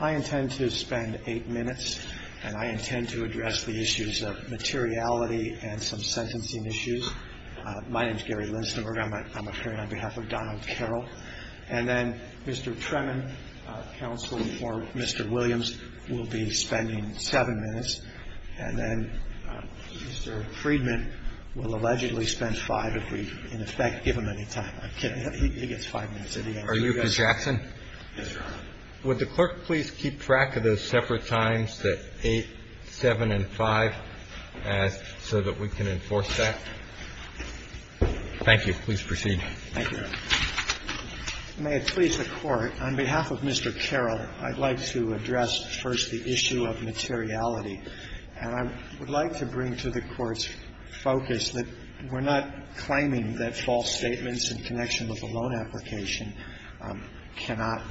I intend to spend eight minutes, and I intend to address the issues of materiality and some sentencing issues. My name is Gary Lindstenberger. I'm appearing on behalf of Donald Carroll. And then Mr. Tremin, counsel for Mr. Williams, will be spending seven minutes. And then Mr. Friedman will allegedly spend five if we, in effect, give him any time. I'm kidding. He gets five minutes at the end. Are you Mr. Jackson? Yes, Your Honor. Would the clerk please keep track of those separate times, the 8, 7, and 5, so that we can enforce that? Thank you. Please proceed. Thank you, Your Honor. May it please the Court, on behalf of Mr. Carroll, I'd like to address first the issue of materiality. And I would like to bring to the Court's focus that we're not claiming that false statements in connection with a loan application cannot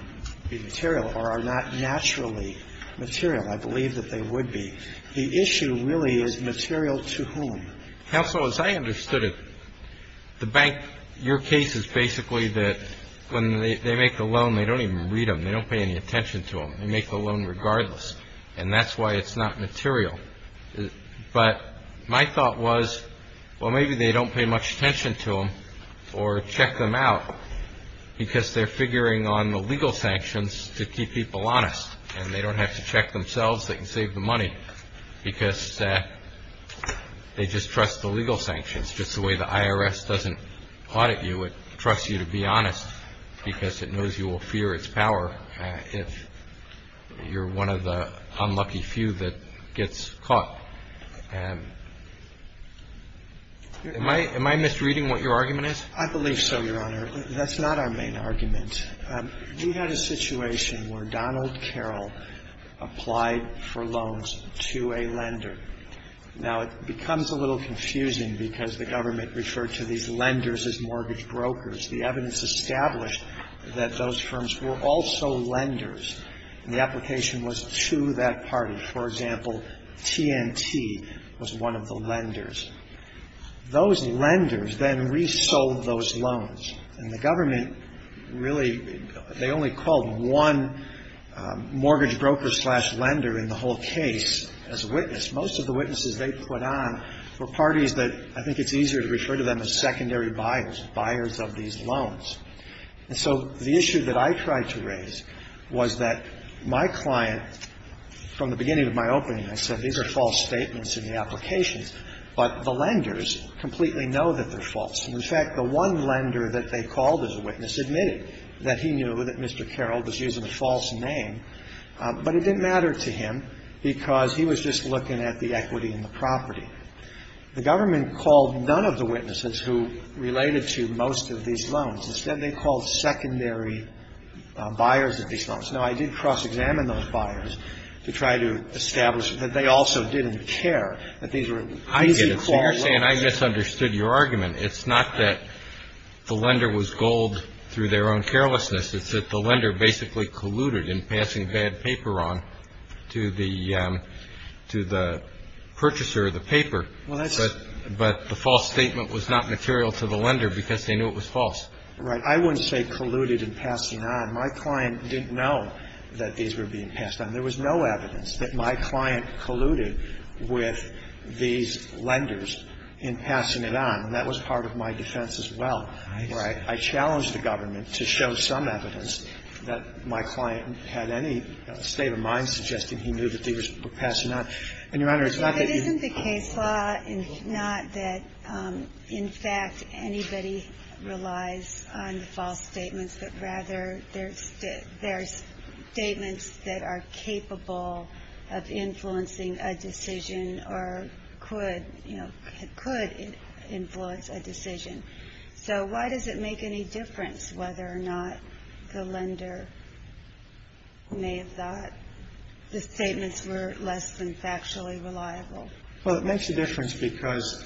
be material or are not naturally material. I believe that they would be. The issue really is material to whom. Counsel, as I understood it, the bank, your case is basically that when they make the loan, they don't even read them. They don't pay any attention to them. They make the loan regardless. And that's why it's not material. But my thought was, well, maybe they don't pay much attention to them or check them out, because they're figuring on the legal sanctions to keep people honest. And they don't have to check themselves. They can save them money, because they just trust the legal sanctions. Just the way the IRS doesn't audit you, it trusts you to be honest, because it knows you will fear its power if you're one of the unlucky few that gets caught. Am I misreading what your argument is? I believe so, Your Honor. That's not our main argument. We had a situation where Donald Carroll applied for loans to a lender. Now, it becomes a little confusing, because the government referred to these lenders as mortgage brokers. The evidence established that those firms were also lenders, and the application was to that party. For example, TNT was one of the lenders. Those lenders then resold those loans. And the government really, they only called one mortgage broker slash lender in the whole case as a witness. Most of the witnesses they put on were parties that I think it's easier to refer to them as secondary buyers, buyers of these loans. And so the issue that I tried to raise was that my client, from the beginning of my opening, I said these are false statements in the applications, but the lenders completely know that they're false. And, in fact, the one lender that they called as a witness admitted that he knew that Mr. Carroll was using a false name, but it didn't matter to him, because he was just looking at the equity in the property. The government called none of the witnesses who related to most of these loans. Instead, they called secondary buyers of these loans. Now, I did cross-examine those buyers to try to establish that they also didn't care, that these were easy call lenders. I get it. So you're saying I misunderstood your argument. It's not that the lender was gold through their own carelessness. It's that the lender basically colluded in passing bad paper on to the purchaser of the paper. But the false statement was not material to the lender because they knew it was false. Right. I wouldn't say colluded in passing on. My client didn't know that these were being passed on. There was no evidence that my client colluded with these lenders in passing it on. And that was part of my defense as well. Right. I challenge the government to show some evidence that my client had any state of mind suggesting he knew that these were passing on. And, Your Honor, it's not that you ---- But isn't the case law not that, in fact, anybody relies on the false statements, but rather there's statements that are capable of influencing a decision or could, you know, could influence a decision? So why does it make any difference whether or not the lender may have thought the statements were less than factually reliable? Well, it makes a difference because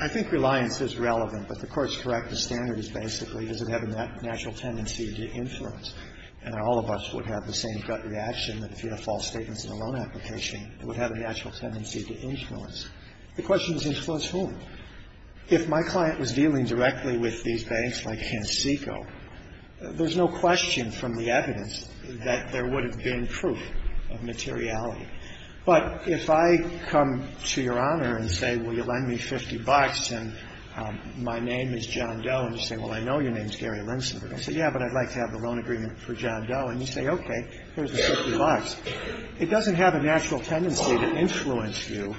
I think reliance is relevant. But the Court is correct. The standard is basically does it have a natural tendency to influence. And all of us would have the same gut reaction that if you have false statements in a loan application, it would have a natural tendency to influence. The question is influence whom? If my client was dealing directly with these banks like Hansiko, there's no question from the evidence that there would have been proof of materiality. But if I come to Your Honor and say, well, you lend me 50 bucks and my name is John Doe, and you say, well, I know your name is Gary Linsenberg. I say, yeah, but I'd like to have a loan agreement for John Doe. And you say, okay, here's the 50 bucks. It doesn't have a natural tendency to influence you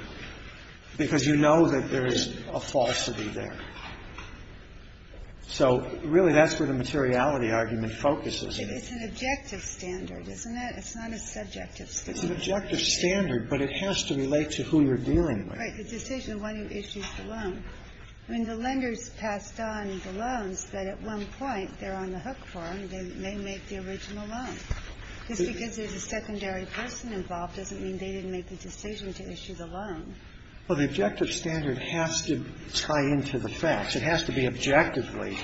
because you know that there is a falsity there. So really that's where the materiality argument focuses. It's an objective standard, isn't it? It's not a subjective standard. It's an objective standard, but it has to relate to who you're dealing with. Right. The decision when you issue the loan. I mean, the lenders passed on the loans that at one point they're on the hook for, and they may make the original loan. Just because there's a secondary person involved doesn't mean they didn't make the decision to issue the loan. Well, the objective standard has to tie into the facts. It has to be objectively.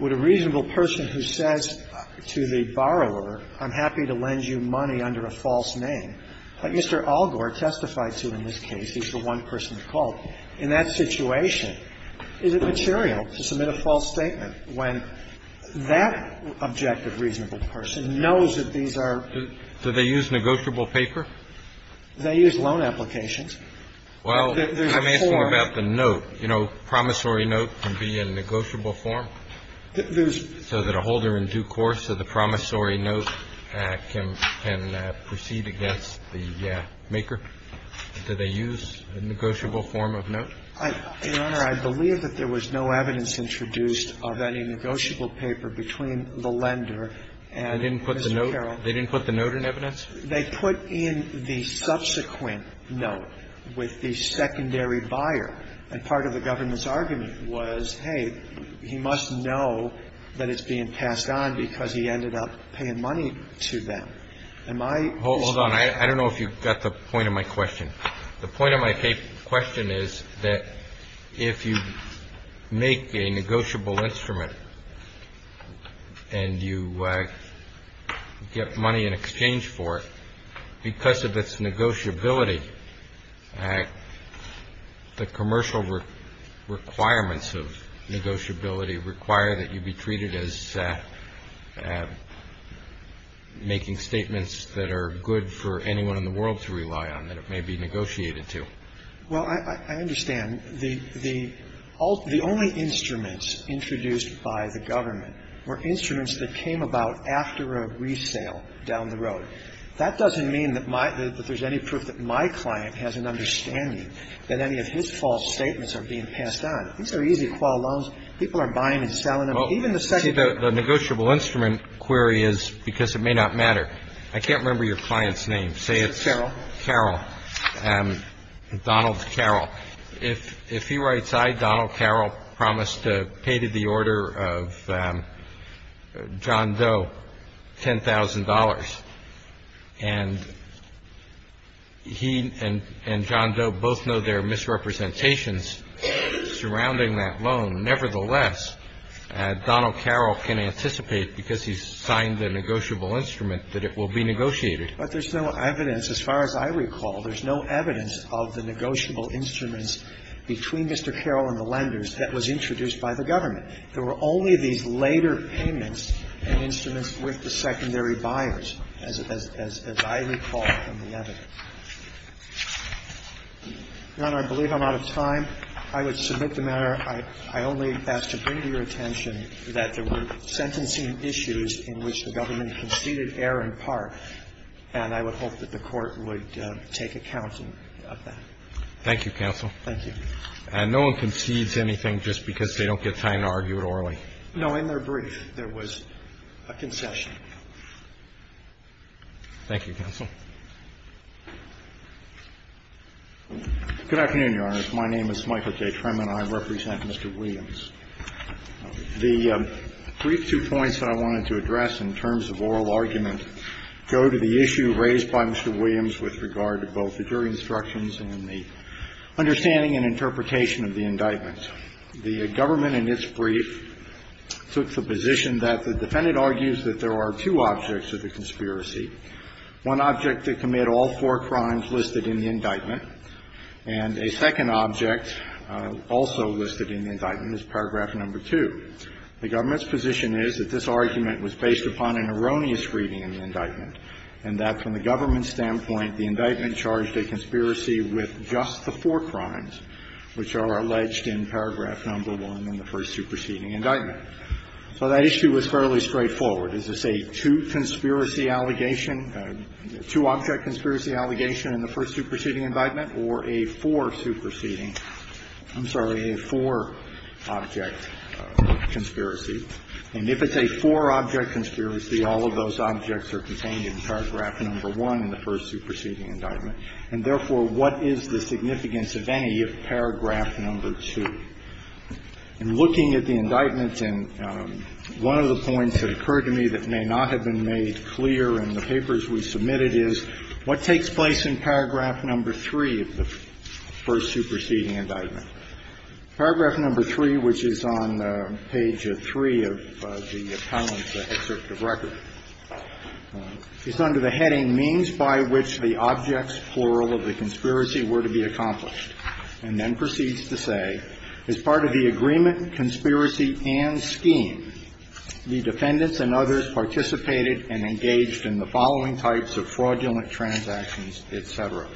Would a reasonable person who says to the borrower, I'm happy to lend you money under a false name, like Mr. Algor testified to in this case, he's the one person called, in that situation, is it material to submit a false statement when that objective reasonable person knows that these are. Do they use negotiable paper? They use loan applications. Well, I'm asking about the note. You know, promissory note can be a negotiable form. There's. So that a holder in due course of the promissory note can proceed against the maker. Do they use a negotiable form of note? Your Honor, I believe that there was no evidence introduced of any negotiable paper between the lender and Mr. Carroll. They didn't put the note in evidence? They put in the subsequent note with the secondary buyer. And part of the government's argument was, hey, he must know that it's being passed on because he ended up paying money to them. Am I. Hold on. I don't know if you got the point of my question. The point of my question is that if you make a negotiable instrument. And you get money in exchange for it because of its negotiability. The commercial requirements of negotiability require that you be treated as. Making statements that are good for anyone in the world to rely on. And that's the kind of thing that the government is trying to do. And that's a good thing that it may be negotiated to. Well, I understand. The only instruments introduced by the government were instruments that came about after a resale down the road. That doesn't mean that there's any proof that my client has an understanding that any of his false statements are being passed on. These are easy to file loans. People are buying and selling them. Well, even the second. The negotiable instrument query is because it may not matter. I can't remember your client's name. Say it's. Carol. Carol. Donald Carol. If he writes I, Donald Carol, promised to pay to the order of John Doe $10,000. And he and John Doe both know there are misrepresentations surrounding that loan. Nevertheless, Donald Carol can anticipate, because he's signed the negotiable instrument, that it will be negotiated. But there's no evidence. As far as I recall, there's no evidence of the negotiable instruments between Mr. Carol and the lenders that was introduced by the government. There were only these later payments and instruments with the secondary buyers, as I recall from the evidence. Your Honor, I believe I'm out of time. I would submit the matter. I only ask to bring to your attention that there were sentencing issues in which the government conceded error in part, and I would hope that the Court would take account of that. Thank you, counsel. Thank you. And no one concedes anything just because they don't get time to argue it orally? In their brief, there was a concession. Thank you, counsel. Good afternoon, Your Honor. My name is Michael J. Trem and I represent Mr. Williams. The brief two points that I wanted to address in terms of oral argument go to the issue raised by Mr. Williams with regard to both the jury instructions and the understanding and interpretation of the indictment. The government in its brief took the position that the defendant argues that there are two objects of the conspiracy. One object to commit all four crimes listed in the indictment, and a second object also listed in the indictment is paragraph number 2. The government's position is that this argument was based upon an erroneous reading in the indictment, and that from the government's standpoint, the indictment charged a conspiracy with just the four crimes which are alleged in paragraph number 1 in the first superseding indictment. So that issue was fairly straightforward. Is this a two conspiracy allegation, a two-object conspiracy allegation in the first superseding indictment or a four superseding? I'm sorry, a four-object conspiracy. And if it's a four-object conspiracy, all of those objects are contained in paragraph number 1 in the first superseding indictment. And therefore, what is the significance of any of paragraph number 2? In looking at the indictment, and one of the points that occurred to me that may not have been made clear in the papers we submitted is, what takes place in paragraph number 3 of the first superseding indictment? Paragraph number 3, which is on page 3 of the appellant's excerpt of record, is under the heading, means by which the objects, plural, of the conspiracy were to be accomplished, and then proceeds to say, as part of the agreement, conspiracy, and scheme, the defendants and others participated and engaged in the following types of fraudulent transactions, et cetera.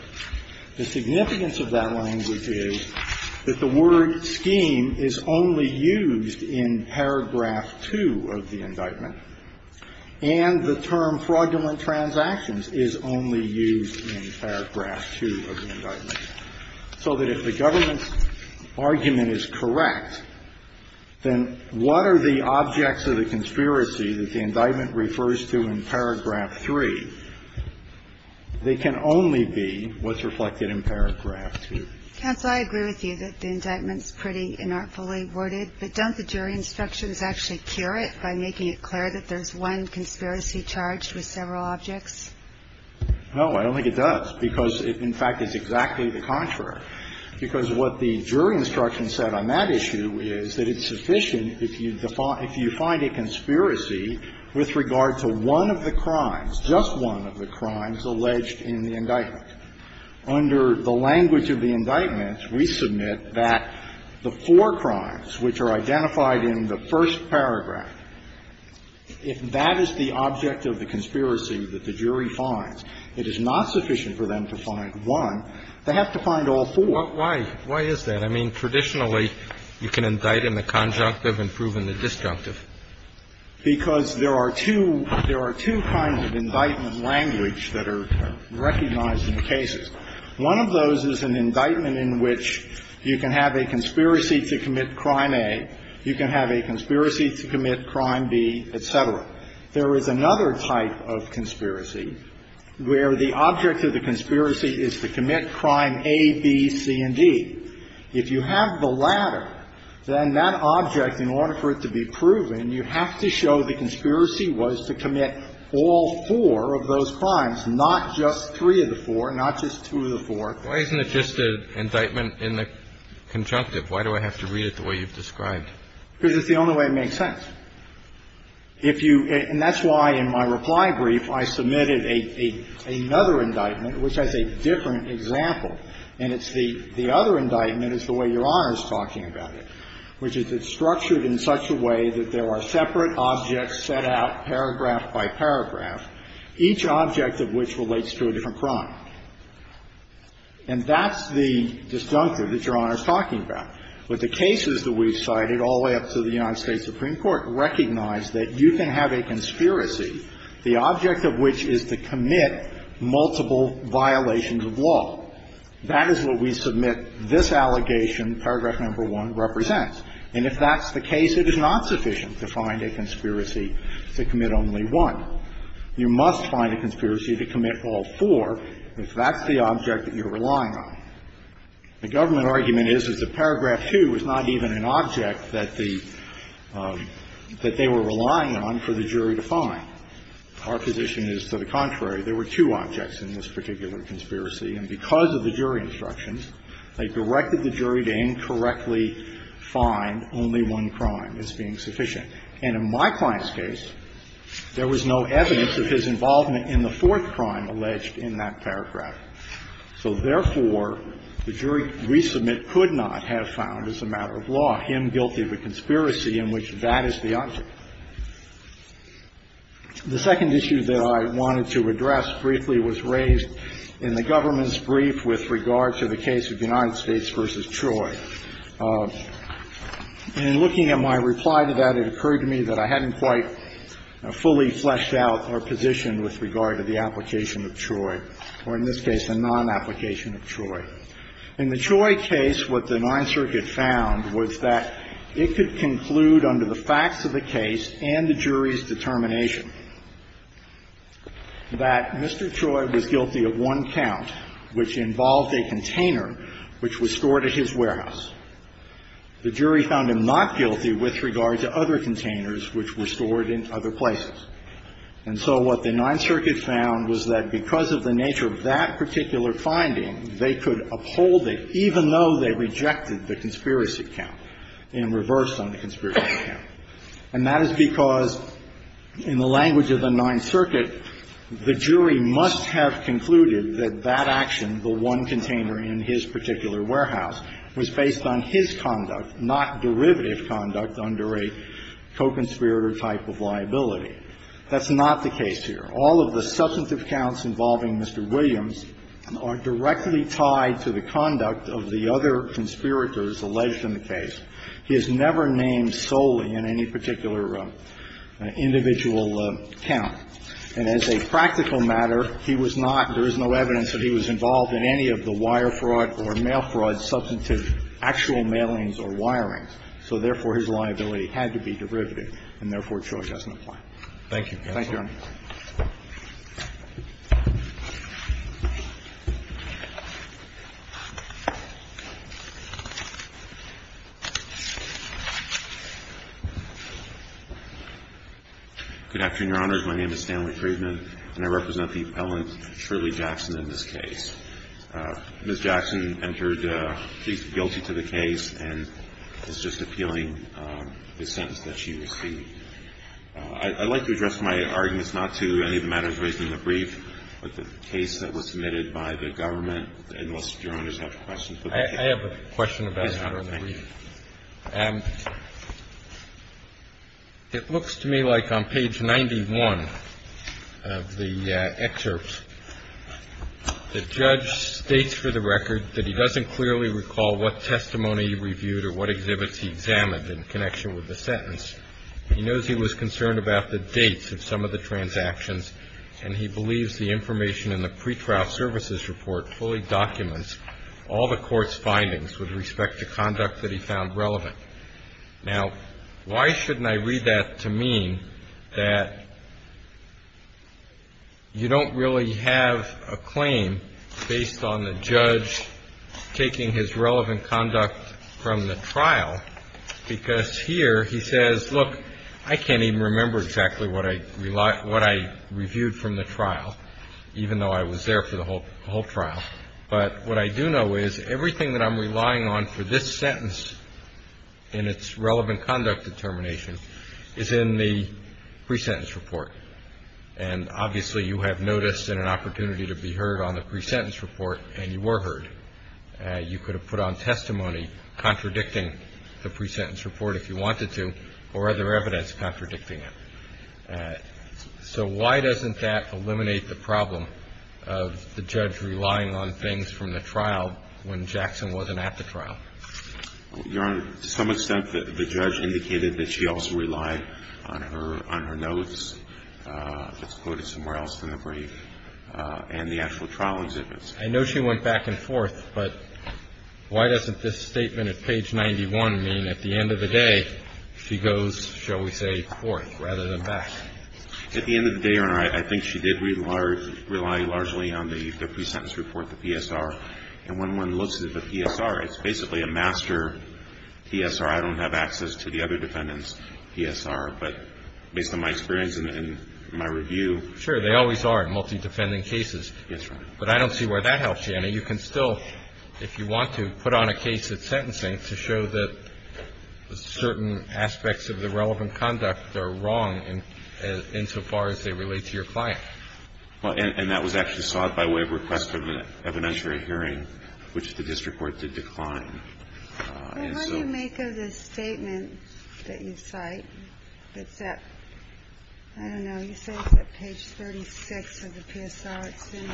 The significance of that language is that the word scheme is only used in paragraph 2 of the indictment, and the term fraudulent transactions is only used in paragraph 2 of the indictment, so that if the government's argument is correct, then what are the objects of the conspiracy that the indictment refers to in paragraph 3? They can only be what's reflected in paragraph 2. Counsel, I agree with you that the indictment's pretty inartfully worded, but don't the jury instructions actually cure it by making it clear that there's one conspiracy charged with several objects? No, I don't think it does, because it, in fact, is exactly the contrary, because what the jury instruction said on that issue is that it's sufficient if you find a conspiracy with regard to one of the crimes, just one of the crimes, alleged in the indictment. Under the language of the indictment, we submit that the four crimes which are identified in the first paragraph, if that is the object of the conspiracy that the jury finds, it is not sufficient for them to find one. They have to find all four. Why is that? I mean, traditionally, you can indict in the conjunctive and prove in the disjunctive. Because there are two kinds of indictment language that are recognized in cases. One of those is an indictment in which you can have a conspiracy to commit crime A, you can have a conspiracy to commit crime B, et cetera. There is another type of conspiracy where the object of the conspiracy is to commit crime A, B, C, and D. If you have the latter, then that object, in order for it to be proven, you have to show the conspiracy was to commit all four of those crimes, not just three of the four, not just two of the four. Why isn't it just an indictment in the conjunctive? Why do I have to read it the way you've described? Because it's the only way it makes sense. If you – and that's why, in my reply brief, I submitted another indictment which has a different example, and it's the other indictment is the way Your Honor is talking about it, which is it's structured in such a way that there are separate objects set out paragraph by paragraph, each object of which relates to a different crime. And that's the disjunctive that Your Honor is talking about. But the cases that we've cited all the way up to the United States Supreme Court recognize that you can have a conspiracy, the object of which is to commit multiple violations of law. That is what we submit this allegation, paragraph number 1, represents. And if that's the case, it is not sufficient to find a conspiracy to commit only one. You must find a conspiracy to commit all four if that's the object that you're relying on. The government argument is that the paragraph 2 is not even an object that the – that they were relying on for the jury to find. Our position is to the contrary. There were two objects in this particular conspiracy, and because of the jury instructions, they directed the jury to incorrectly find only one crime as being sufficient. And in my client's case, there was no evidence of his involvement in the fourth crime alleged in that paragraph. So therefore, the jury resubmit could not have found as a matter of law him guilty of a conspiracy in which that is the object. The second issue that I wanted to address briefly was raised in the government's case of United States v. Troy. In looking at my reply to that, it occurred to me that I hadn't quite fully fleshed out our position with regard to the application of Troy, or in this case, a non-application of Troy. In the Troy case, what the Ninth Circuit found was that it could conclude under the facts of the case and the jury's determination that Mr. Troy was guilty of one count, which involved a container which was stored at his warehouse. The jury found him not guilty with regard to other containers which were stored in other places. And so what the Ninth Circuit found was that because of the nature of that particular finding, they could uphold it, even though they rejected the conspiracy count and reversed on the conspiracy count. And that is because, in the language of the Ninth Circuit, the jury must have concluded that that action, the one container in his particular warehouse, was based on his conduct, not derivative conduct under a co-conspirator type of liability. That's not the case here. All of the substantive counts involving Mr. Williams are directly tied to the conduct of the other conspirators alleged in the case. He is never named solely in any particular individual count. And as a practical matter, he was not, there is no evidence that he was involved in any of the wire fraud or mail fraud substantive actual mailings or wirings. So therefore, his liability had to be derivative, and therefore, Troy doesn't apply. Thank you, Your Honor. Good afternoon, Your Honors. My name is Stanley Friedman, and I represent the appellant, Shirley Jackson, in this case. Ms. Jackson entered plea guilty to the case and is just appealing the sentence that she received. I'd like to address my arguments not to any of the matters raised in the brief, but the case that was submitted by the government, unless Your Honors have questions about the case. I have a question about it. Yes, Your Honor. Thank you. It looks to me like on page 91 of the excerpt, the judge states for the record that he doesn't clearly recall what testimony he reviewed or what exhibits he examined in connection with the sentence. He knows he was concerned about the dates of some of the transactions, and he believes the information in the pretrial services report fully documents all the court's findings with respect to conduct that he found relevant. Now, why shouldn't I read that to mean that you don't really have a claim based on the judge taking his relevant conduct from the trial? Because here he says, look, I can't even remember exactly what I reviewed from the trial, even though I was there for the whole trial. But what I do know is everything that I'm relying on for this sentence in its relevant conduct determination is in the pre-sentence report. And obviously you have notice and an opportunity to be heard on the pre-sentence report, and you were heard. You could have put on testimony contradicting the pre-sentence report if you wanted to, or other evidence contradicting it. So why doesn't that eliminate the problem of the judge relying on things from the trial when Jackson wasn't at the trial? Your Honor, to some extent the judge indicated that she also relied on her notes. It's quoted somewhere else in the brief and the actual trial exhibits. I know she went back and forth, but why doesn't this statement at page 91 mean at the end of the day she goes, shall we say, forth rather than back? At the end of the day, Your Honor, I think she did rely largely on the pre-sentence report, the PSR. And when one looks at the PSR, it's basically a master PSR. I don't have access to the other defendants' PSR. But based on my experience and my review. Sure. They always are in multi-defending cases. Yes, Your Honor. But I don't see where that helps you. I mean, you can still, if you want to, put on a case at sentencing to show that certain aspects of the relevant conduct are wrong insofar as they relate to your client. Well, and that was actually sought by way of request of an evidentiary hearing, which the district court did decline. Well, how do you make of this statement that you cite that's at, I don't know, you say it's at page 36 of the PSR. It's in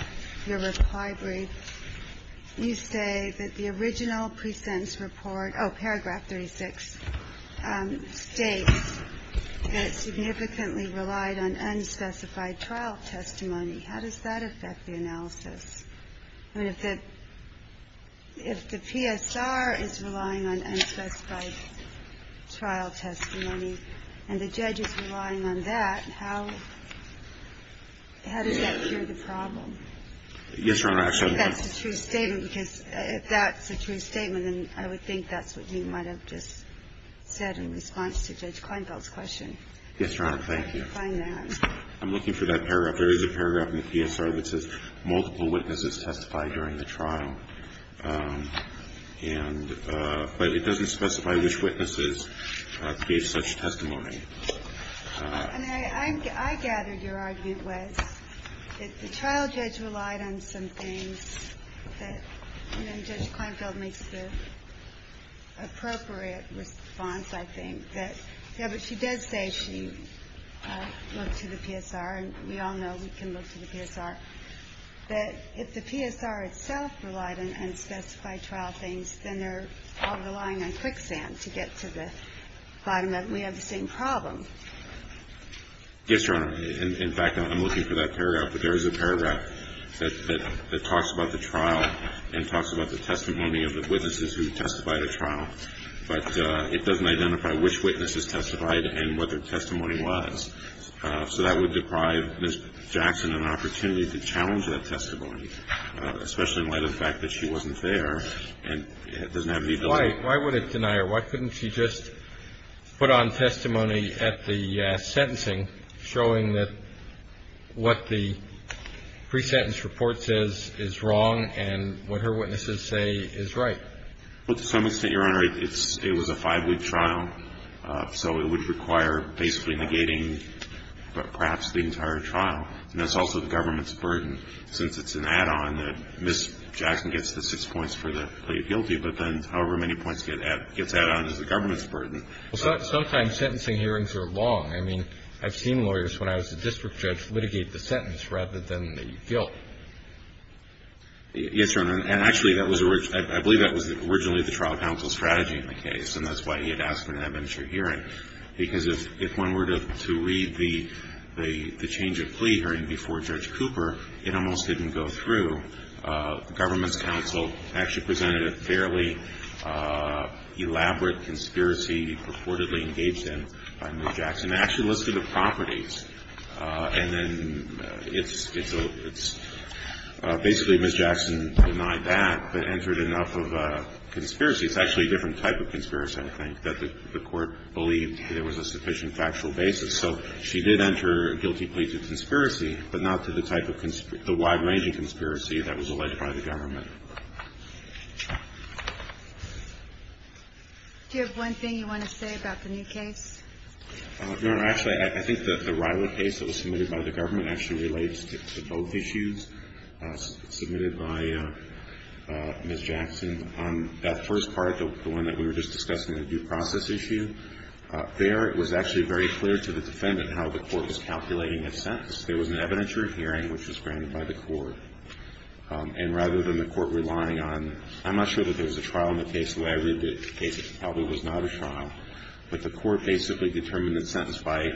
your reply brief. You say that the original pre-sentence report, oh, paragraph 36, states that it significantly relied on unspecified trial testimony. How does that affect the analysis? I mean, if the PSR is relying on unspecified trial testimony and the judge is relying on that, how does that cure the problem? Yes, Your Honor. Actually, that's a true statement, because if that's a true statement, then I would think that's what you might have just said in response to Judge Kleinfeld's question. Yes, Your Honor. Thank you. I'm looking for that paragraph. There is a paragraph in the PSR that says multiple witnesses testified during the trial, and but it doesn't specify which witnesses gave such testimony. And I gathered your argument was that the trial judge relied on some things that, and then Judge Kleinfeld makes the appropriate response, I think, that, yes, but she does say she looked to the PSR, and we all know we can look to the PSR, that if the PSR itself relied on unspecified trial things, then they're all relying on quicksand to get to the bottom of it, and we have the same problem. Yes, Your Honor. In fact, I'm looking for that paragraph. But there is a paragraph that talks about the trial and talks about the testimony of the witnesses who testified at trial, but it doesn't identify which witnesses testified and what their testimony was. So that would deprive Ms. Jackson an opportunity to challenge that testimony, especially in light of the fact that she wasn't there and doesn't have any ability. Why would it deny her? Why couldn't she just put on testimony at the sentencing showing that what the pre-sentence report says is wrong and what her witnesses say is right? Well, to some extent, Your Honor, it was a five-week trial, so it would require basically negating perhaps the entire trial, and that's also the government's burden, since it's an add-on that Ms. Jackson gets the six points for the plea of guilty, but then however many points gets added on is the government's burden. Sometimes sentencing hearings are long. I mean, I've seen lawyers, when I was a district judge, litigate the sentence rather than the guilt. Yes, Your Honor. And actually, I believe that was originally the trial counsel's strategy in the case, and that's why he had asked for an adventure hearing, because if one were to read the change of plea hearing before Judge Cooper, it almost didn't go through. The government's counsel actually presented a fairly elaborate conspiracy purportedly engaged in by Ms. Jackson. And they actually listed the properties, and then it's basically Ms. Jackson denied that, but entered enough of a conspiracy. It's actually a different type of conspiracy, I think, that the Court believed there was a sufficient factual basis. So she did enter a guilty plea to conspiracy, but not to the type of the wide-ranging conspiracy that was alleged by the government. Do you have one thing you want to say about the new case? Your Honor, actually, I think that the Rila case that was submitted by the government actually relates to both issues submitted by Ms. Jackson. On that first part, the one that we were just discussing, the due process issue, there it was actually very clear to the defendant how the Court was calculating his sentence. There was an adventure hearing which was granted by the Court, and rather than the Court relying on – I'm not sure that there was a trial in the case the way I read it, the case probably was not a trial. But the Court basically determined the sentence by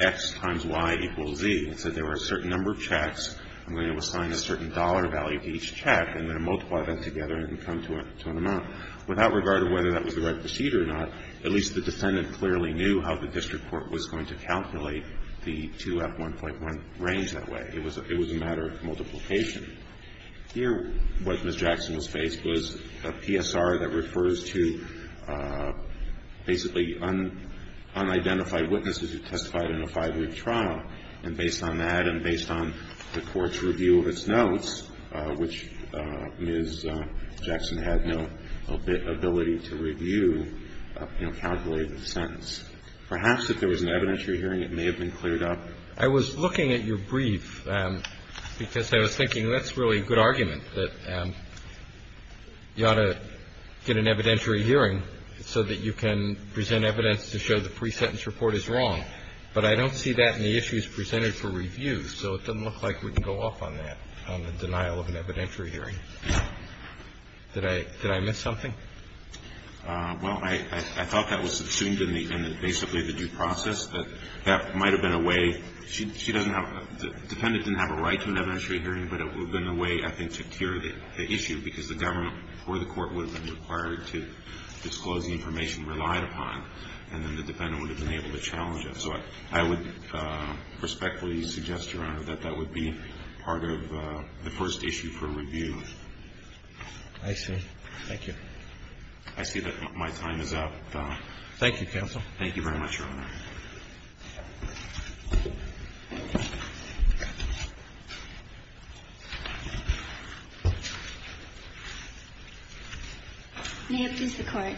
X times Y equals Z. It said there were a certain number of checks, and we're going to assign a certain dollar value to each check, and then multiply that together and come to an amount. Without regard to whether that was the right procedure or not, at least the defendant clearly knew how the district court was going to calculate the 2F1.1 range that way. It was a matter of multiplication. Here what Ms. Jackson was faced was a PSR that refers to basically unidentified witnesses who testified in a five-week trial. And based on that and based on the Court's review of its notes, which Ms. Jackson had no ability to review, calculated the sentence. Perhaps if there was an evidentiary hearing, it may have been cleared up. I was looking at your brief because I was thinking that's really a good argument, that you ought to get an evidentiary hearing so that you can present evidence to show the pre-sentence report is wrong. But I don't see that in the issues presented for review, so it doesn't look like we can go off on that, on the denial of an evidentiary hearing. Did I miss something? Well, I thought that was subsumed in basically the due process, that that might have been a way. The defendant didn't have a right to an evidentiary hearing, but it would have been a way, I think, to cure the issue because the government or the Court would have been required to disclose the information relied upon, and then the defendant would have been able to challenge it. So I would respectfully suggest, Your Honor, that that would be part of the first issue for review. I see. Thank you. I see that my time is up. Thank you, counsel. Thank you very much, Your Honor. May it please the Court.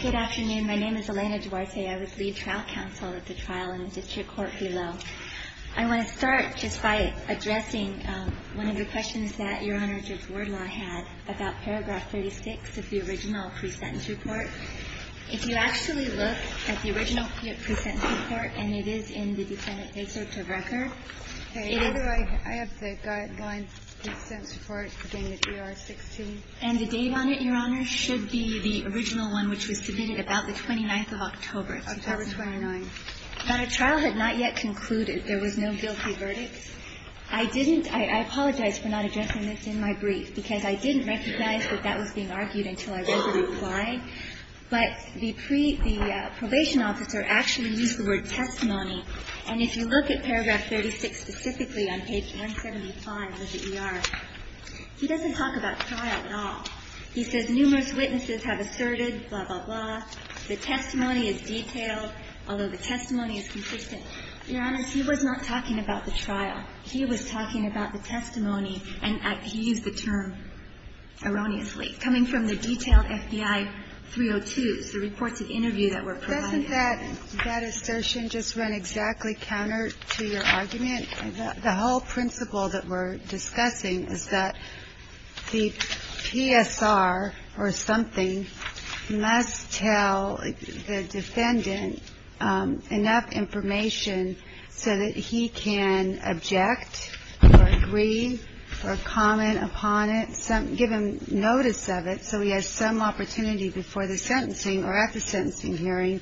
Good afternoon. My name is Elena Duarte. I was lead trial counsel at the trial in the district court below. I want to start just by addressing one of the questions that Your Honor, Judge Wardlaw had about paragraph 36 of the original pre-sentence report. If you actually look at the original pre-sentence report, and it is in the defendant's case search of record, it is the case search of record. I have the guideline pre-sentence report, the AR-16. And the date on it, Your Honor, should be the original one, which was submitted about the 29th of October, 2009. October 29. But a trial had not yet concluded. There was no guilty verdict. I didn't – I apologize for not addressing this in my brief, because I didn't recognize that that was being argued until I read the reply. But the pre – the probation officer actually used the word testimony. And if you look at paragraph 36 specifically on page 175 of the ER, he doesn't talk about trial at all. He says numerous witnesses have asserted, blah, blah, blah. The testimony is detailed, although the testimony is consistent. Your Honor, he was not talking about the trial. He was talking about the testimony. And he used the term erroneously. Coming from the detailed FBI 302s, the reports of interview that were provided. Doesn't that assertion just run exactly counter to your argument? The whole principle that we're discussing is that the PSR or something must tell the opponent, give him notice of it so he has some opportunity before the sentencing or at the sentencing hearing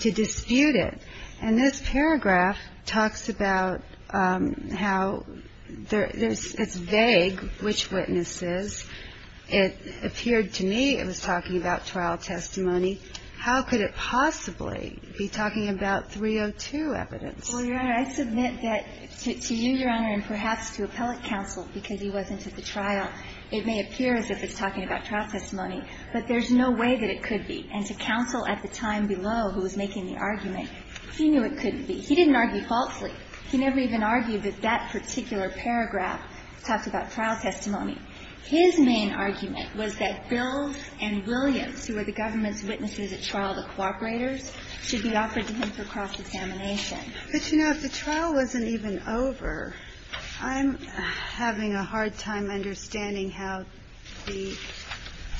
to dispute it. And this paragraph talks about how there's – it's vague, which witnesses. It appeared to me it was talking about trial testimony. How could it possibly be talking about 302 evidence? Well, Your Honor, I submit that to you, Your Honor, and perhaps to appellate counsel, because he wasn't at the trial, it may appear as if it's talking about trial testimony. But there's no way that it could be. And to counsel at the time below who was making the argument, he knew it couldn't be. He didn't argue falsely. He never even argued that that particular paragraph talked about trial testimony. His main argument was that Bill and Williams, who were the government's witnesses at trial, the cooperators, should be offered to him for cross-examination. But, you know, if the trial wasn't even over, I'm having a hard time understanding how the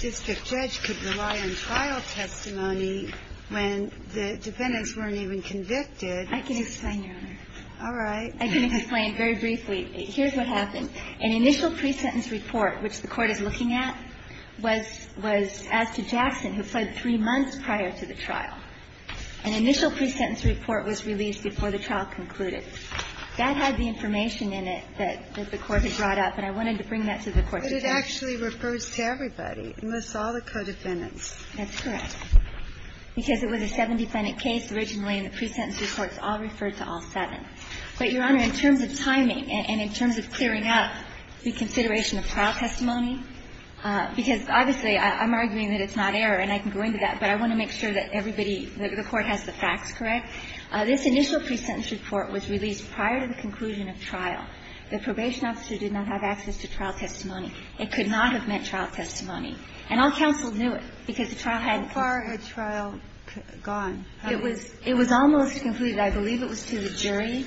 district judge could rely on trial testimony when the defendants weren't even convicted. I can explain, Your Honor. All right. I can explain very briefly. Here's what happened. An initial pre-sentence report, which the Court is looking at, was as to Jackson, who fled three months prior to the trial. An initial pre-sentence report was released before the trial concluded. That had the information in it that the Court had brought up, and I wanted to bring that to the Court today. But it actually refers to everybody, unless all the co-defendants. That's correct. Because it was a seven-defendant case originally, and the pre-sentence reports all refer to all seven. But, Your Honor, in terms of timing and in terms of clearing up the consideration of trial testimony, because obviously I'm arguing that it's not error and I can go into that, but I want to make sure that everybody, the Court has the facts correct. This initial pre-sentence report was released prior to the conclusion of trial. The probation officer did not have access to trial testimony. It could not have meant trial testimony. And all counsel knew it, because the trial hadn't been. How far had trial gone? It was almost concluded. I believe it was to the jury,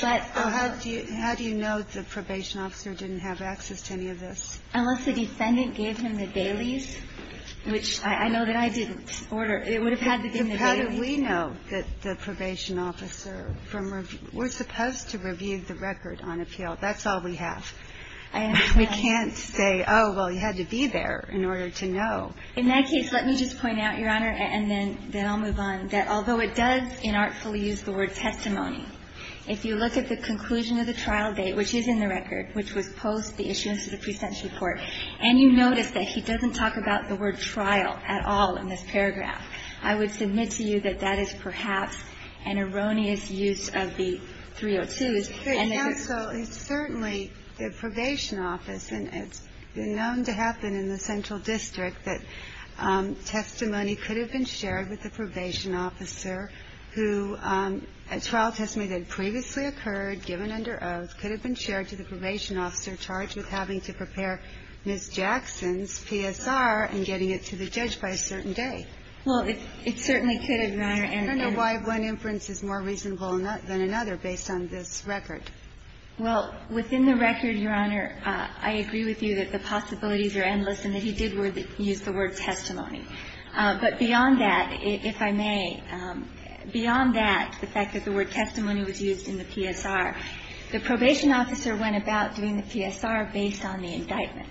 but. Well, how do you know the probation officer didn't have access to any of this? Unless the defendant gave him the dailies, which I know that I didn't order. It would have had to have been the dailies. But how do we know that the probation officer from review? We're supposed to review the record on appeal. That's all we have. I am not. We can't say, oh, well, he had to be there in order to know. In that case, let me just point out, Your Honor, and then I'll move on, that although it does inartfully use the word testimony, if you look at the conclusion of the trial date, which is in the record, which was post the issuance of the pre-sentence report, and you notice that he doesn't talk about the word trial at all in this paragraph, I would submit to you that that is perhaps an erroneous use of the 302s. And there's a. It's certainly the probation office, and it's known to happen in the central district that testimony could have been shared with the probation officer who, a trial testimony that previously occurred, given under oath, could have been shared to the probation officer charged with having to prepare Ms. Jackson's PSR and getting it to the judge by a certain day. Well, it certainly could have, Your Honor. I don't know why one inference is more reasonable than another based on this record. Well, within the record, Your Honor, I agree with you that the possibilities are endless and that he did use the word testimony. But beyond that, if I may, beyond that, the fact that the word testimony was used in the PSR, the probation officer went about doing the PSR based on the indictment.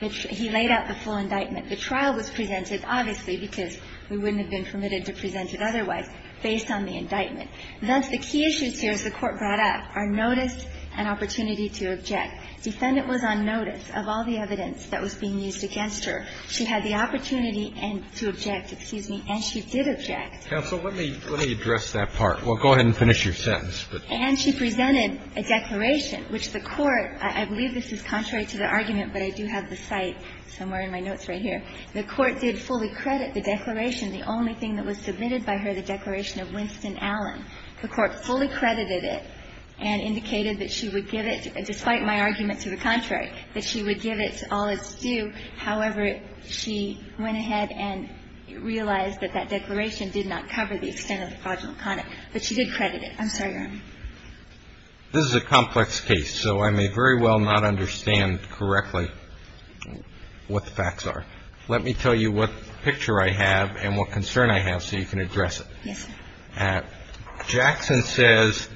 He laid out the full indictment. The trial was presented, obviously, because we wouldn't have been permitted to present it otherwise, based on the indictment. Thus, the key issues here, as the Court brought up, are notice and opportunity to object. Defendant was on notice of all the evidence that was being used against her. She had the opportunity to object. Excuse me. And she did object. Counsel, let me address that part. Well, go ahead and finish your sentence. And she presented a declaration, which the Court, I believe this is contrary to the argument, but I do have the cite somewhere in my notes right here. The Court did fully credit the declaration. The only thing that was submitted by her, the declaration of Winston Allen. The Court fully credited it and indicated that she would give it, despite my argument to the contrary, that she would give it to all that's due. However, she went ahead and realized that that declaration did not cover the extent of the fraudulent conduct, but she did credit it. I'm sorry, Your Honor. This is a complex case, so I may very well not understand correctly what the facts are. Let me tell you what picture I have and what concern I have so you can address Yes, sir. Jackson says,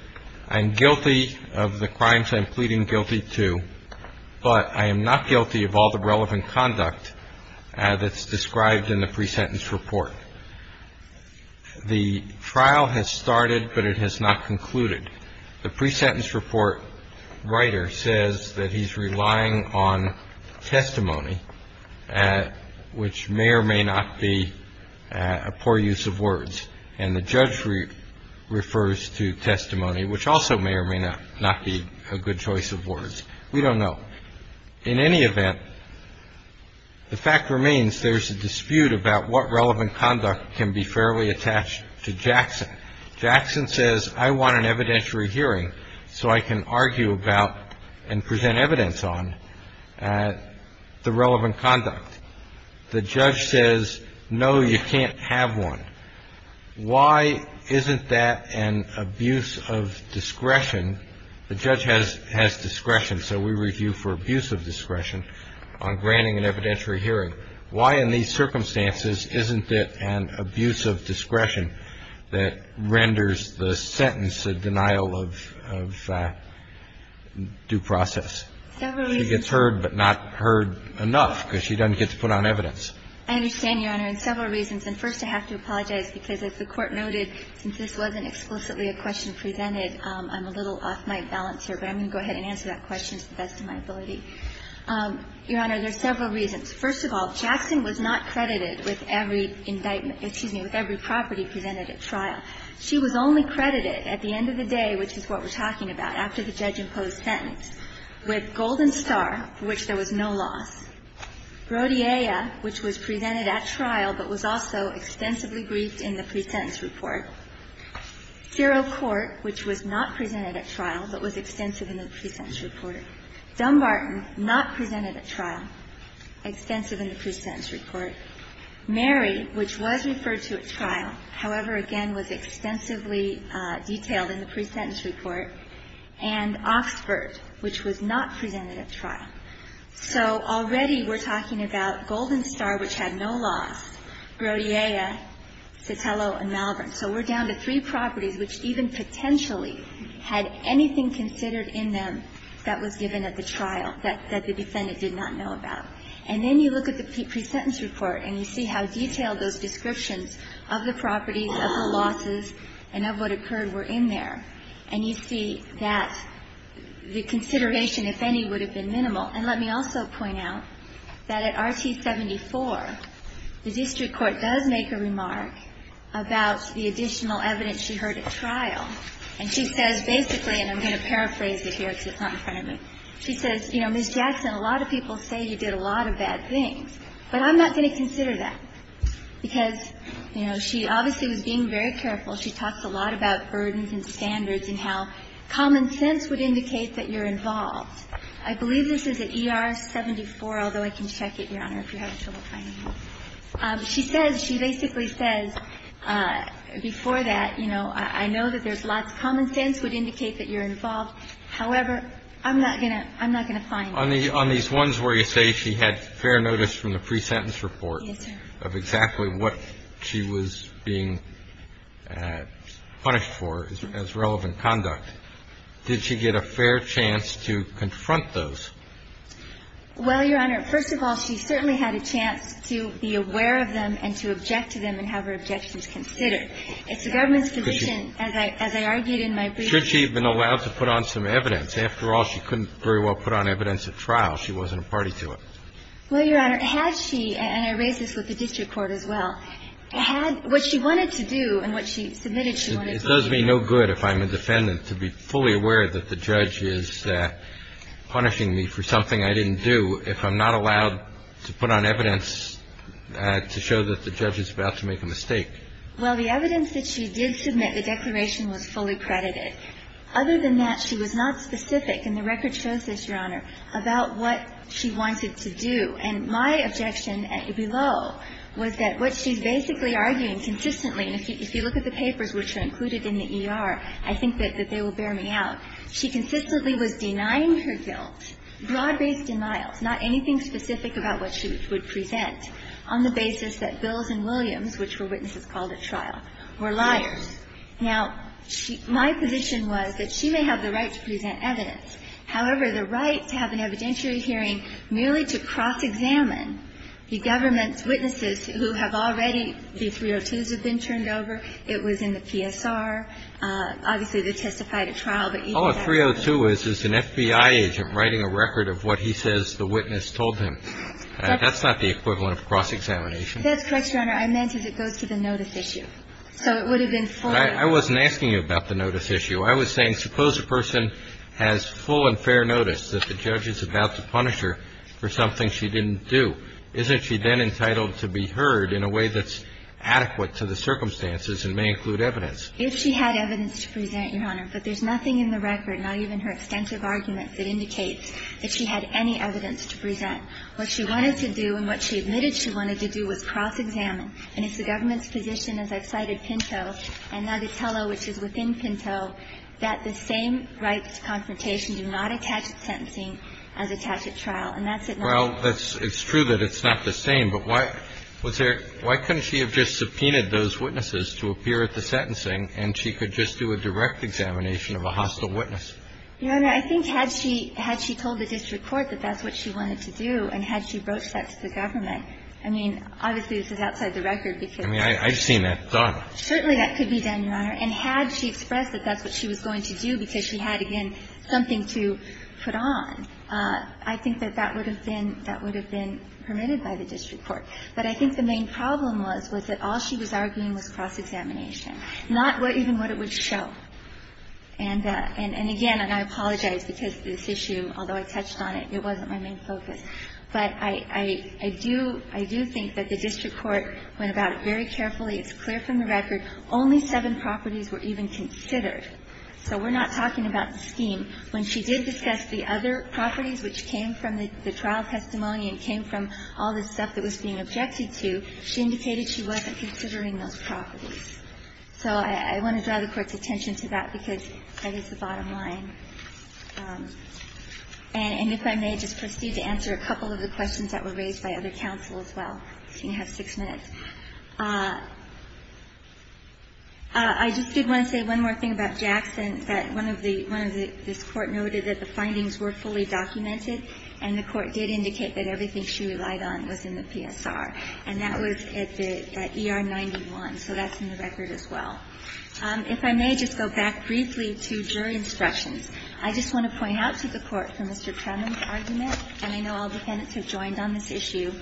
I'm guilty of the crimes I'm pleading guilty to, but I am not guilty of all the relevant conduct that's described in the pre-sentence report. The trial has started, but it has not concluded. The pre-sentence report writer says that he's relying on testimony, which may or may not be a poor use of words. And the judge refers to testimony, which also may or may not be a good choice of words. We don't know. In any event, the fact remains there's a dispute about what relevant conduct can be fairly attached to Jackson. Jackson says, I want an evidentiary hearing so I can argue about and present evidence on the relevant conduct. The judge says, no, you can't have one. Why isn't that an abuse of discretion? The judge has discretion, so we review for abuse of discretion on granting an evidentiary hearing. Why in these circumstances isn't it an abuse of discretion that renders the sentence a denial of due process? The judge says, no, you can't have an evidentiary hearing. Why isn't it an abuse of discretion that renders the sentence a denial of due process? Several reasons. She gets heard but not heard enough because she doesn't get to put on evidence. I understand, Your Honor, and several reasons. And first, I have to apologize, because as the Court noted, since this wasn't explicitly a question presented, I'm a little off my balance here. But I'm going to go ahead and answer that question to the best of my ability. Your Honor, there's several reasons. First of all, Jackson was not credited with every indictment – excuse me – with every property presented at trial. She was only credited at the end of the day, which is what we're talking about, after the judge imposed sentence, with Golden Star, for which there was no loss, Brodia, which was presented at trial but was also extensively briefed in the pre-sentence report, Zero Court, which was not presented at trial but was extensive in the pre-sentence report, Dumbarton, not presented at trial, extensive in the pre-sentence report, Mary, which was referred to at trial, however, again, was extensively detailed in the pre-sentence report, and Oxford, which was not presented at trial. So already we're talking about Golden Star, which had no loss, Brodia, Citello and Malvern. So we're down to three properties which even potentially had anything considered in them that was given at the trial that the defendant did not know about. And then you look at the pre-sentence report and you see how detailed those descriptions of the properties, of the losses and of what occurred were in there. And you see that the consideration, if any, would have been minimal. And let me also point out that at RT-74, the district court does make a remark about the additional evidence she heard at trial. And she says basically, and I'm going to paraphrase it here because it's not in front of me, she says, you know, Ms. Jackson, a lot of people say you did a lot of bad things, but I'm not going to consider that, because, you know, she obviously was being very careful. She talks a lot about burdens and standards and how common sense would indicate that you're involved. I believe this is at ER-74, although I can check it, Your Honor, if you're having trouble finding it. She says, she basically says before that, you know, I know that there's lots of common sense would indicate that you're involved. However, I'm not going to find it. On these ones where you say she had fair notice from the pre-sentence report of exactly what she was being punished for as relevant conduct, did she get a fair chance to confront those? Well, Your Honor, first of all, she certainly had a chance to be aware of them and to object to them and have her objections considered. It's the government's position, as I argued in my brief. Should she have been allowed to put on some evidence? After all, she couldn't very well put on evidence at trial. She wasn't a party to it. Well, Your Honor, had she, and I raise this with the district court as well, had what she wanted to do and what she submitted she wanted to do. It does me no good if I'm a defendant to be fully aware that the judge is punishing me for something I didn't do if I'm not allowed to put on evidence to show that the judge is about to make a mistake. Well, the evidence that she did submit, the declaration, was fully credited. Other than that, she was not specific, and the record shows this, Your Honor, about what she wanted to do, and my objection below was that what she's basically arguing consistently, and if you look at the papers which are included in the ER, I think that they will bear me out. She consistently was denying her guilt, broad-based denials, not anything specific about what she would present, on the basis that Bills and Williams, which were witnesses called at trial, were liars. Now, my position was that she may have the right to present evidence. However, the right to have an evidentiary hearing merely to cross-examine the government's witnesses who have already, the 302s have been turned over. It was in the PSR. Obviously, they testified at trial, but even that was not the case. All a 302 is is an FBI agent writing a record of what he says the witness told him. That's not the equivalent of cross-examination. That's correct, Your Honor. I meant as it goes to the notice issue. So it would have been fully. I wasn't asking you about the notice issue. I was saying suppose a person has full and fair notice that the judge is about to punish her for something she didn't do. Isn't she then entitled to be heard in a way that's adequate to the circumstances and may include evidence? If she had evidence to present, Your Honor, but there's nothing in the record, not even her extensive arguments, that indicates that she had any evidence to present. What she wanted to do and what she admitted she wanted to do was cross-examine. And if the government's position, as I've cited Pinto and Natatello, which is within Pinto, that the same rights to confrontation do not attach to sentencing as attach at trial, and that's it. Well, it's true that it's not the same. But why couldn't she have just subpoenaed those witnesses to appear at the sentencing and she could just do a direct examination of a hostile witness? Your Honor, I think had she told the district court that that's what she wanted to do and had she broached that to the government. I mean, obviously, this is outside the record because. I mean, I've seen that done. Certainly, that could be done, Your Honor. And had she expressed that that's what she was going to do because she had, again, something to put on, I think that that would have been permitted by the district court. But I think the main problem was, was that all she was arguing was cross-examination, not even what it would show. And again, and I apologize because this issue, although I touched on it, it wasn't my main focus. But I do think that the district court went about it very carefully. It's clear from the record only seven properties were even considered. So we're not talking about the scheme. When she did discuss the other properties which came from the trial testimony and came from all the stuff that was being objected to, she indicated she wasn't considering those properties. So I want to draw the Court's attention to that because that is the bottom line. And if I may just proceed to answer a couple of the questions that were raised by other counsel as well. You have six minutes. I just did want to say one more thing about Jackson, that one of the, one of the, this Court noted that the findings were fully documented, and the Court did indicate that everything she relied on was in the PSR. And that was at the ER-91. So that's in the record as well. If I may just go back briefly to jury instructions. I just want to point out to the Court from Mr. Trenum's argument, and I know all defendants have joined on this issue,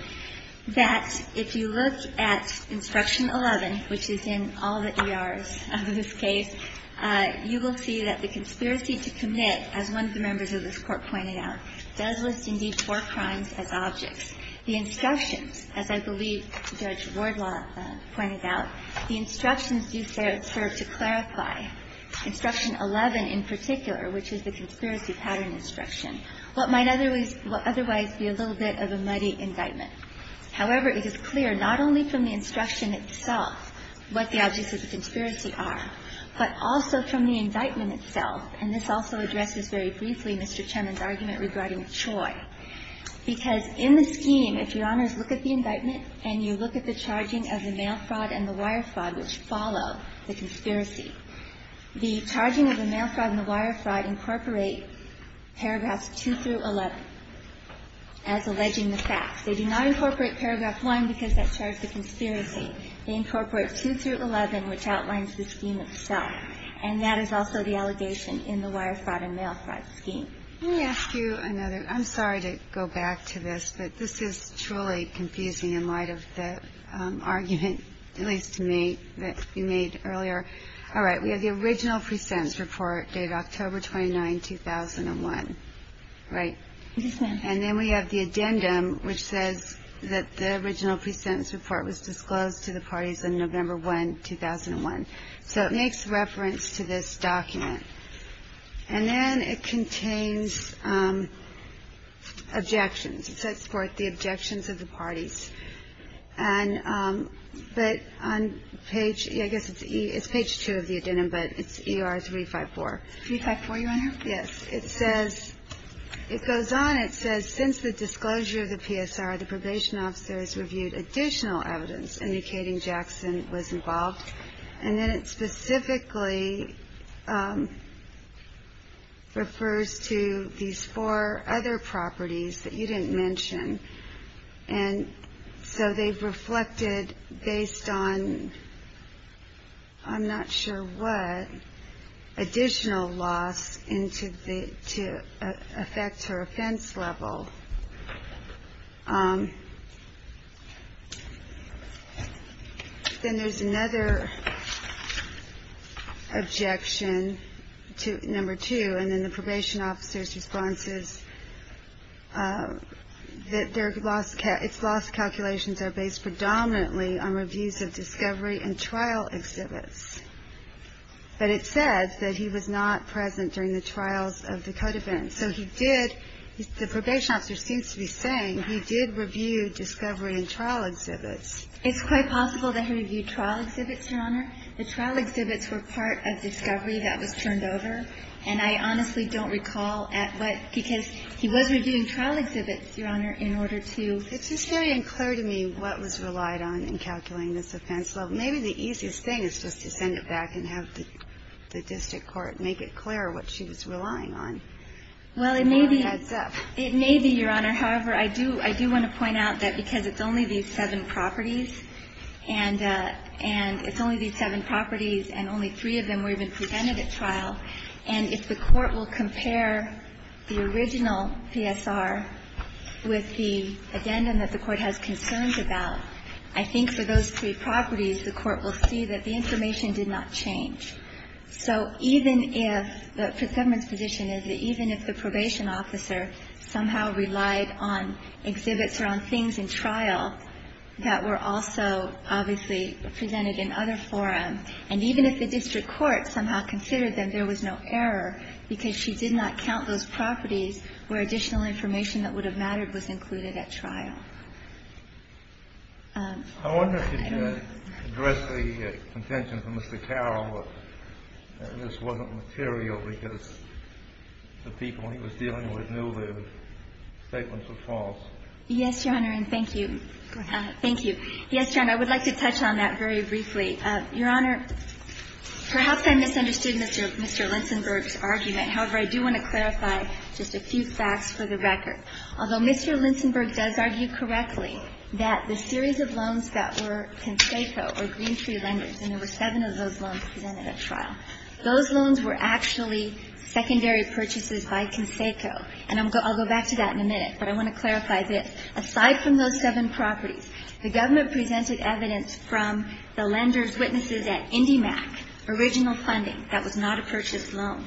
that if you look at Instruction 11, which is in all the ERs of this case, you will see that the conspiracy to commit, as one of the members of this Court pointed out, does list indeed four crimes as objects. The instructions, as I believe Judge Wardlaw pointed out, the instructions do serve to clarify Instruction 11 in particular, which is the conspiracy pattern instruction, what might otherwise be a little bit of a muddy indictment. However, it is clear not only from the instruction itself what the objects of the conspiracy are, but also from the indictment itself. And this also addresses very briefly Mr. Trenum's argument regarding Choi. Because in the scheme, if Your Honors look at the indictment and you look at the charging of the mail fraud and the wire fraud, which follow the conspiracy, the charging of the mail fraud and the wire fraud incorporate paragraphs 2 through 11 as alleging the facts. They do not incorporate paragraph 1 because that charged the conspiracy. They incorporate 2 through 11, which outlines the scheme itself. And that is also the allegation in the wire fraud and mail fraud scheme. Let me ask you another. I'm sorry to go back to this, but this is truly confusing in light of the argument, at least to me, that you made earlier. All right. We have the original pre-sentence report dated October 29, 2001, right? Yes, ma'am. And then we have the addendum, which says that the original pre-sentence report was disclosed to the parties on November 1, 2001. So it makes reference to this document. And then it contains objections. It says, for the objections of the parties. And but on page ‑‑ I guess it's page 2 of the addendum, but it's E.R. 354. 354, Your Honor? Yes. It says ‑‑ it goes on. It says, since the disclosure of the PSR, the probation officers reviewed additional evidence indicating Jackson was involved. And then it specifically refers to these four other properties that you didn't mention. And so they've reflected based on I'm not sure what additional loss to affect her offense level. Then there's another objection, number 2, and then the probation officers' responses that their loss calculations are based predominantly on reviews of discovery and trial exhibits. But it says that he was not present during the trials of the code offense. And so he did ‑‑ the probation officer seems to be saying he did review discovery and trial exhibits. It's quite possible that he reviewed trial exhibits, Your Honor. The trial exhibits were part of discovery that was turned over. And I honestly don't recall at what ‑‑ because he was reviewing trial exhibits, Your Honor, in order to ‑‑ It's just very unclear to me what was relied on in calculating this offense level. Maybe the easiest thing is just to send it back and have the district court make it clear what she was relying on. Well, it may be, Your Honor. However, I do want to point out that because it's only these seven properties, and it's only these seven properties and only three of them were even presented at trial, and if the court will compare the original PSR with the addendum that the court has concerns about, I think for those three properties, the court will see that the information did not change. So even if ‑‑ the government's position is that even if the probation officer somehow relied on exhibits or on things in trial that were also obviously presented in other forums, and even if the district court somehow considered that there was no error because she did not count those properties where additional information that would have mattered was included at trial. I wonder if you could address the contention from Mr. Carroll that this wasn't material because the people he was dealing with knew their statements were false. Yes, Your Honor, and thank you. Thank you. Yes, Your Honor, I would like to touch on that very briefly. Your Honor, perhaps I misunderstood Mr. Linsenberg's argument. However, I do want to clarify just a few facts for the record. Although Mr. Linsenberg does argue correctly that the series of loans that were Conseco or Green Tree Lenders, and there were seven of those loans presented at trial, those loans were actually secondary purchases by Conseco. And I'll go back to that in a minute, but I want to clarify this. Aside from those seven properties, the government presented evidence from the lenders' witnesses at IndyMac, original funding. That was not a purchase loan.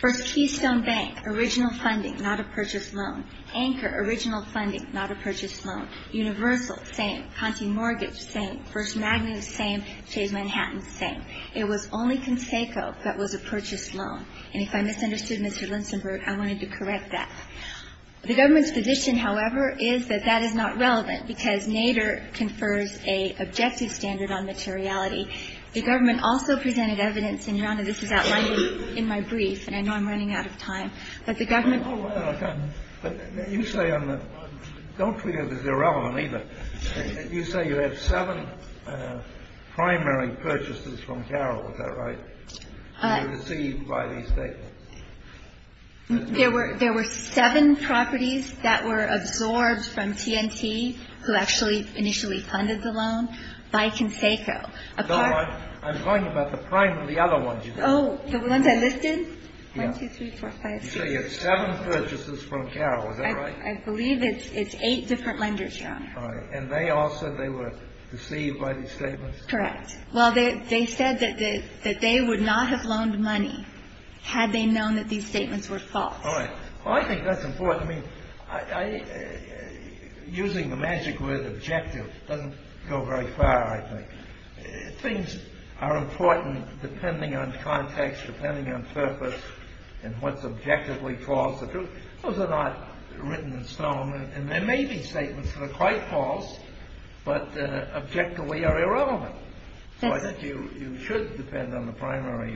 First Keystone Bank, original funding, not a purchase loan. Anchor, original funding, not a purchase loan. Universal, same. Conti Mortgage, same. First Magnus, same. Chase Manhattan, same. It was only Conseco that was a purchase loan. And if I misunderstood Mr. Linsenberg, I wanted to correct that. The government's position, however, is that that is not relevant because Nader confers a objective standard on materiality. The government also presented evidence, and Your Honor, this is outlined in my brief, and I know I'm running out of time. But the government... Oh, well, okay. But you say on the... Don't treat it as irrelevant, either. You say you have seven primary purchases from Carroll. Is that right? Received by these statements. There were seven properties that were absorbed from T&T, who actually initially funded the loan, by Conseco. No, I'm talking about the other ones. Oh, the ones I listed? One, two, three, four, five, six. You say you have seven purchases from Carroll. Is that right? I believe it's eight different lenders, Your Honor. All right. And they all said they were deceived by these statements? Correct. Well, they said that they would not have loaned money had they known that these statements were false. All right. Well, I think that's important. I mean, using the magic word objective doesn't go very far, I think. Things are important depending on context, depending on purpose, and what's objectively false. Those are not written in stone. And there may be statements that are quite false, but objectively are irrelevant. So I think you should depend on the primary...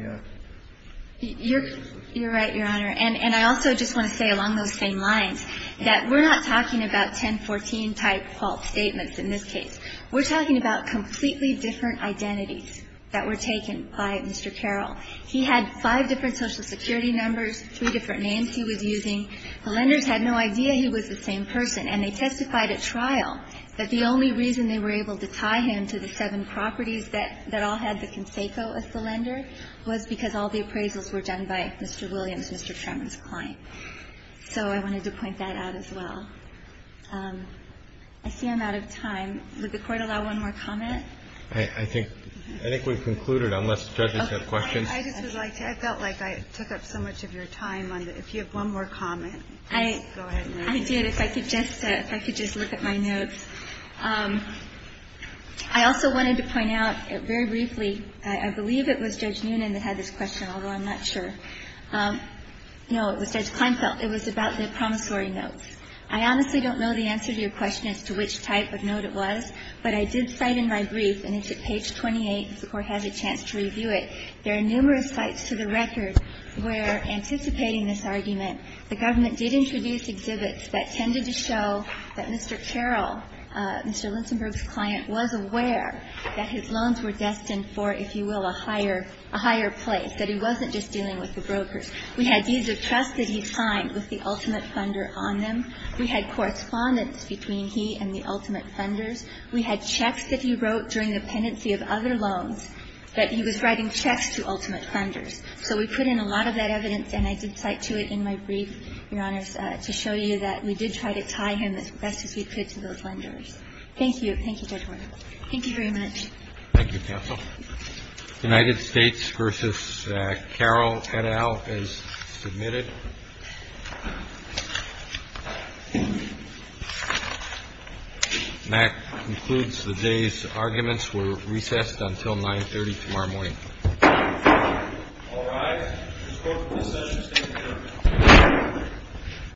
You're right, Your Honor. And I also just want to say along those same lines that we're not talking about 1014-type false statements in this case. We're talking about completely different identities that were taken by Mr. Carroll. He had five different Social Security numbers, three different names he was using. The lenders had no idea he was the same person, and they testified at trial that the only reason they were able to tie him to the seven properties that all had the conseco as the lender was because all the appraisals were done by Mr. Williams, Mr. Tremmer's client. So I wanted to point that out as well. I see I'm out of time. Would the Court allow one more comment? I think we've concluded, unless the judges have questions. I just would like to. I felt like I took up so much of your time. If you have one more comment, go ahead. I did. If I could just look at my notes. I also wanted to point out very briefly, I believe it was Judge Noonan that had this question, although I'm not sure. No, it was Judge Kleinfeld. It was about the promissory notes. I honestly don't know the answer to your question as to which type of note it was, but I did cite in my brief, and it's at page 28, if the Court has a chance to review it. There are numerous sites to the record where, anticipating this argument, the government did introduce exhibits that tended to show that Mr. Carroll, Mr. Linsenburg's client, was aware that his loans were destined for, if you will, a higher place, that he wasn't just dealing with the brokers. We had deeds of trust that he signed with the ultimate funder on them. We had correspondence between he and the ultimate funders. We had checks that he wrote during the pendency of other loans that he was writing checks to ultimate funders. So we put in a lot of that evidence, and I did cite to it in my brief, Your Honors, to show you that we did try to tie him as best as we could to those lenders. Thank you. Thank you very much. Thank you, counsel. United States v. Carroll, et al., is submitted. And that concludes the day's arguments. We're recessed until 9.30 tomorrow morning. All rise. This Court for this session stands adjourned.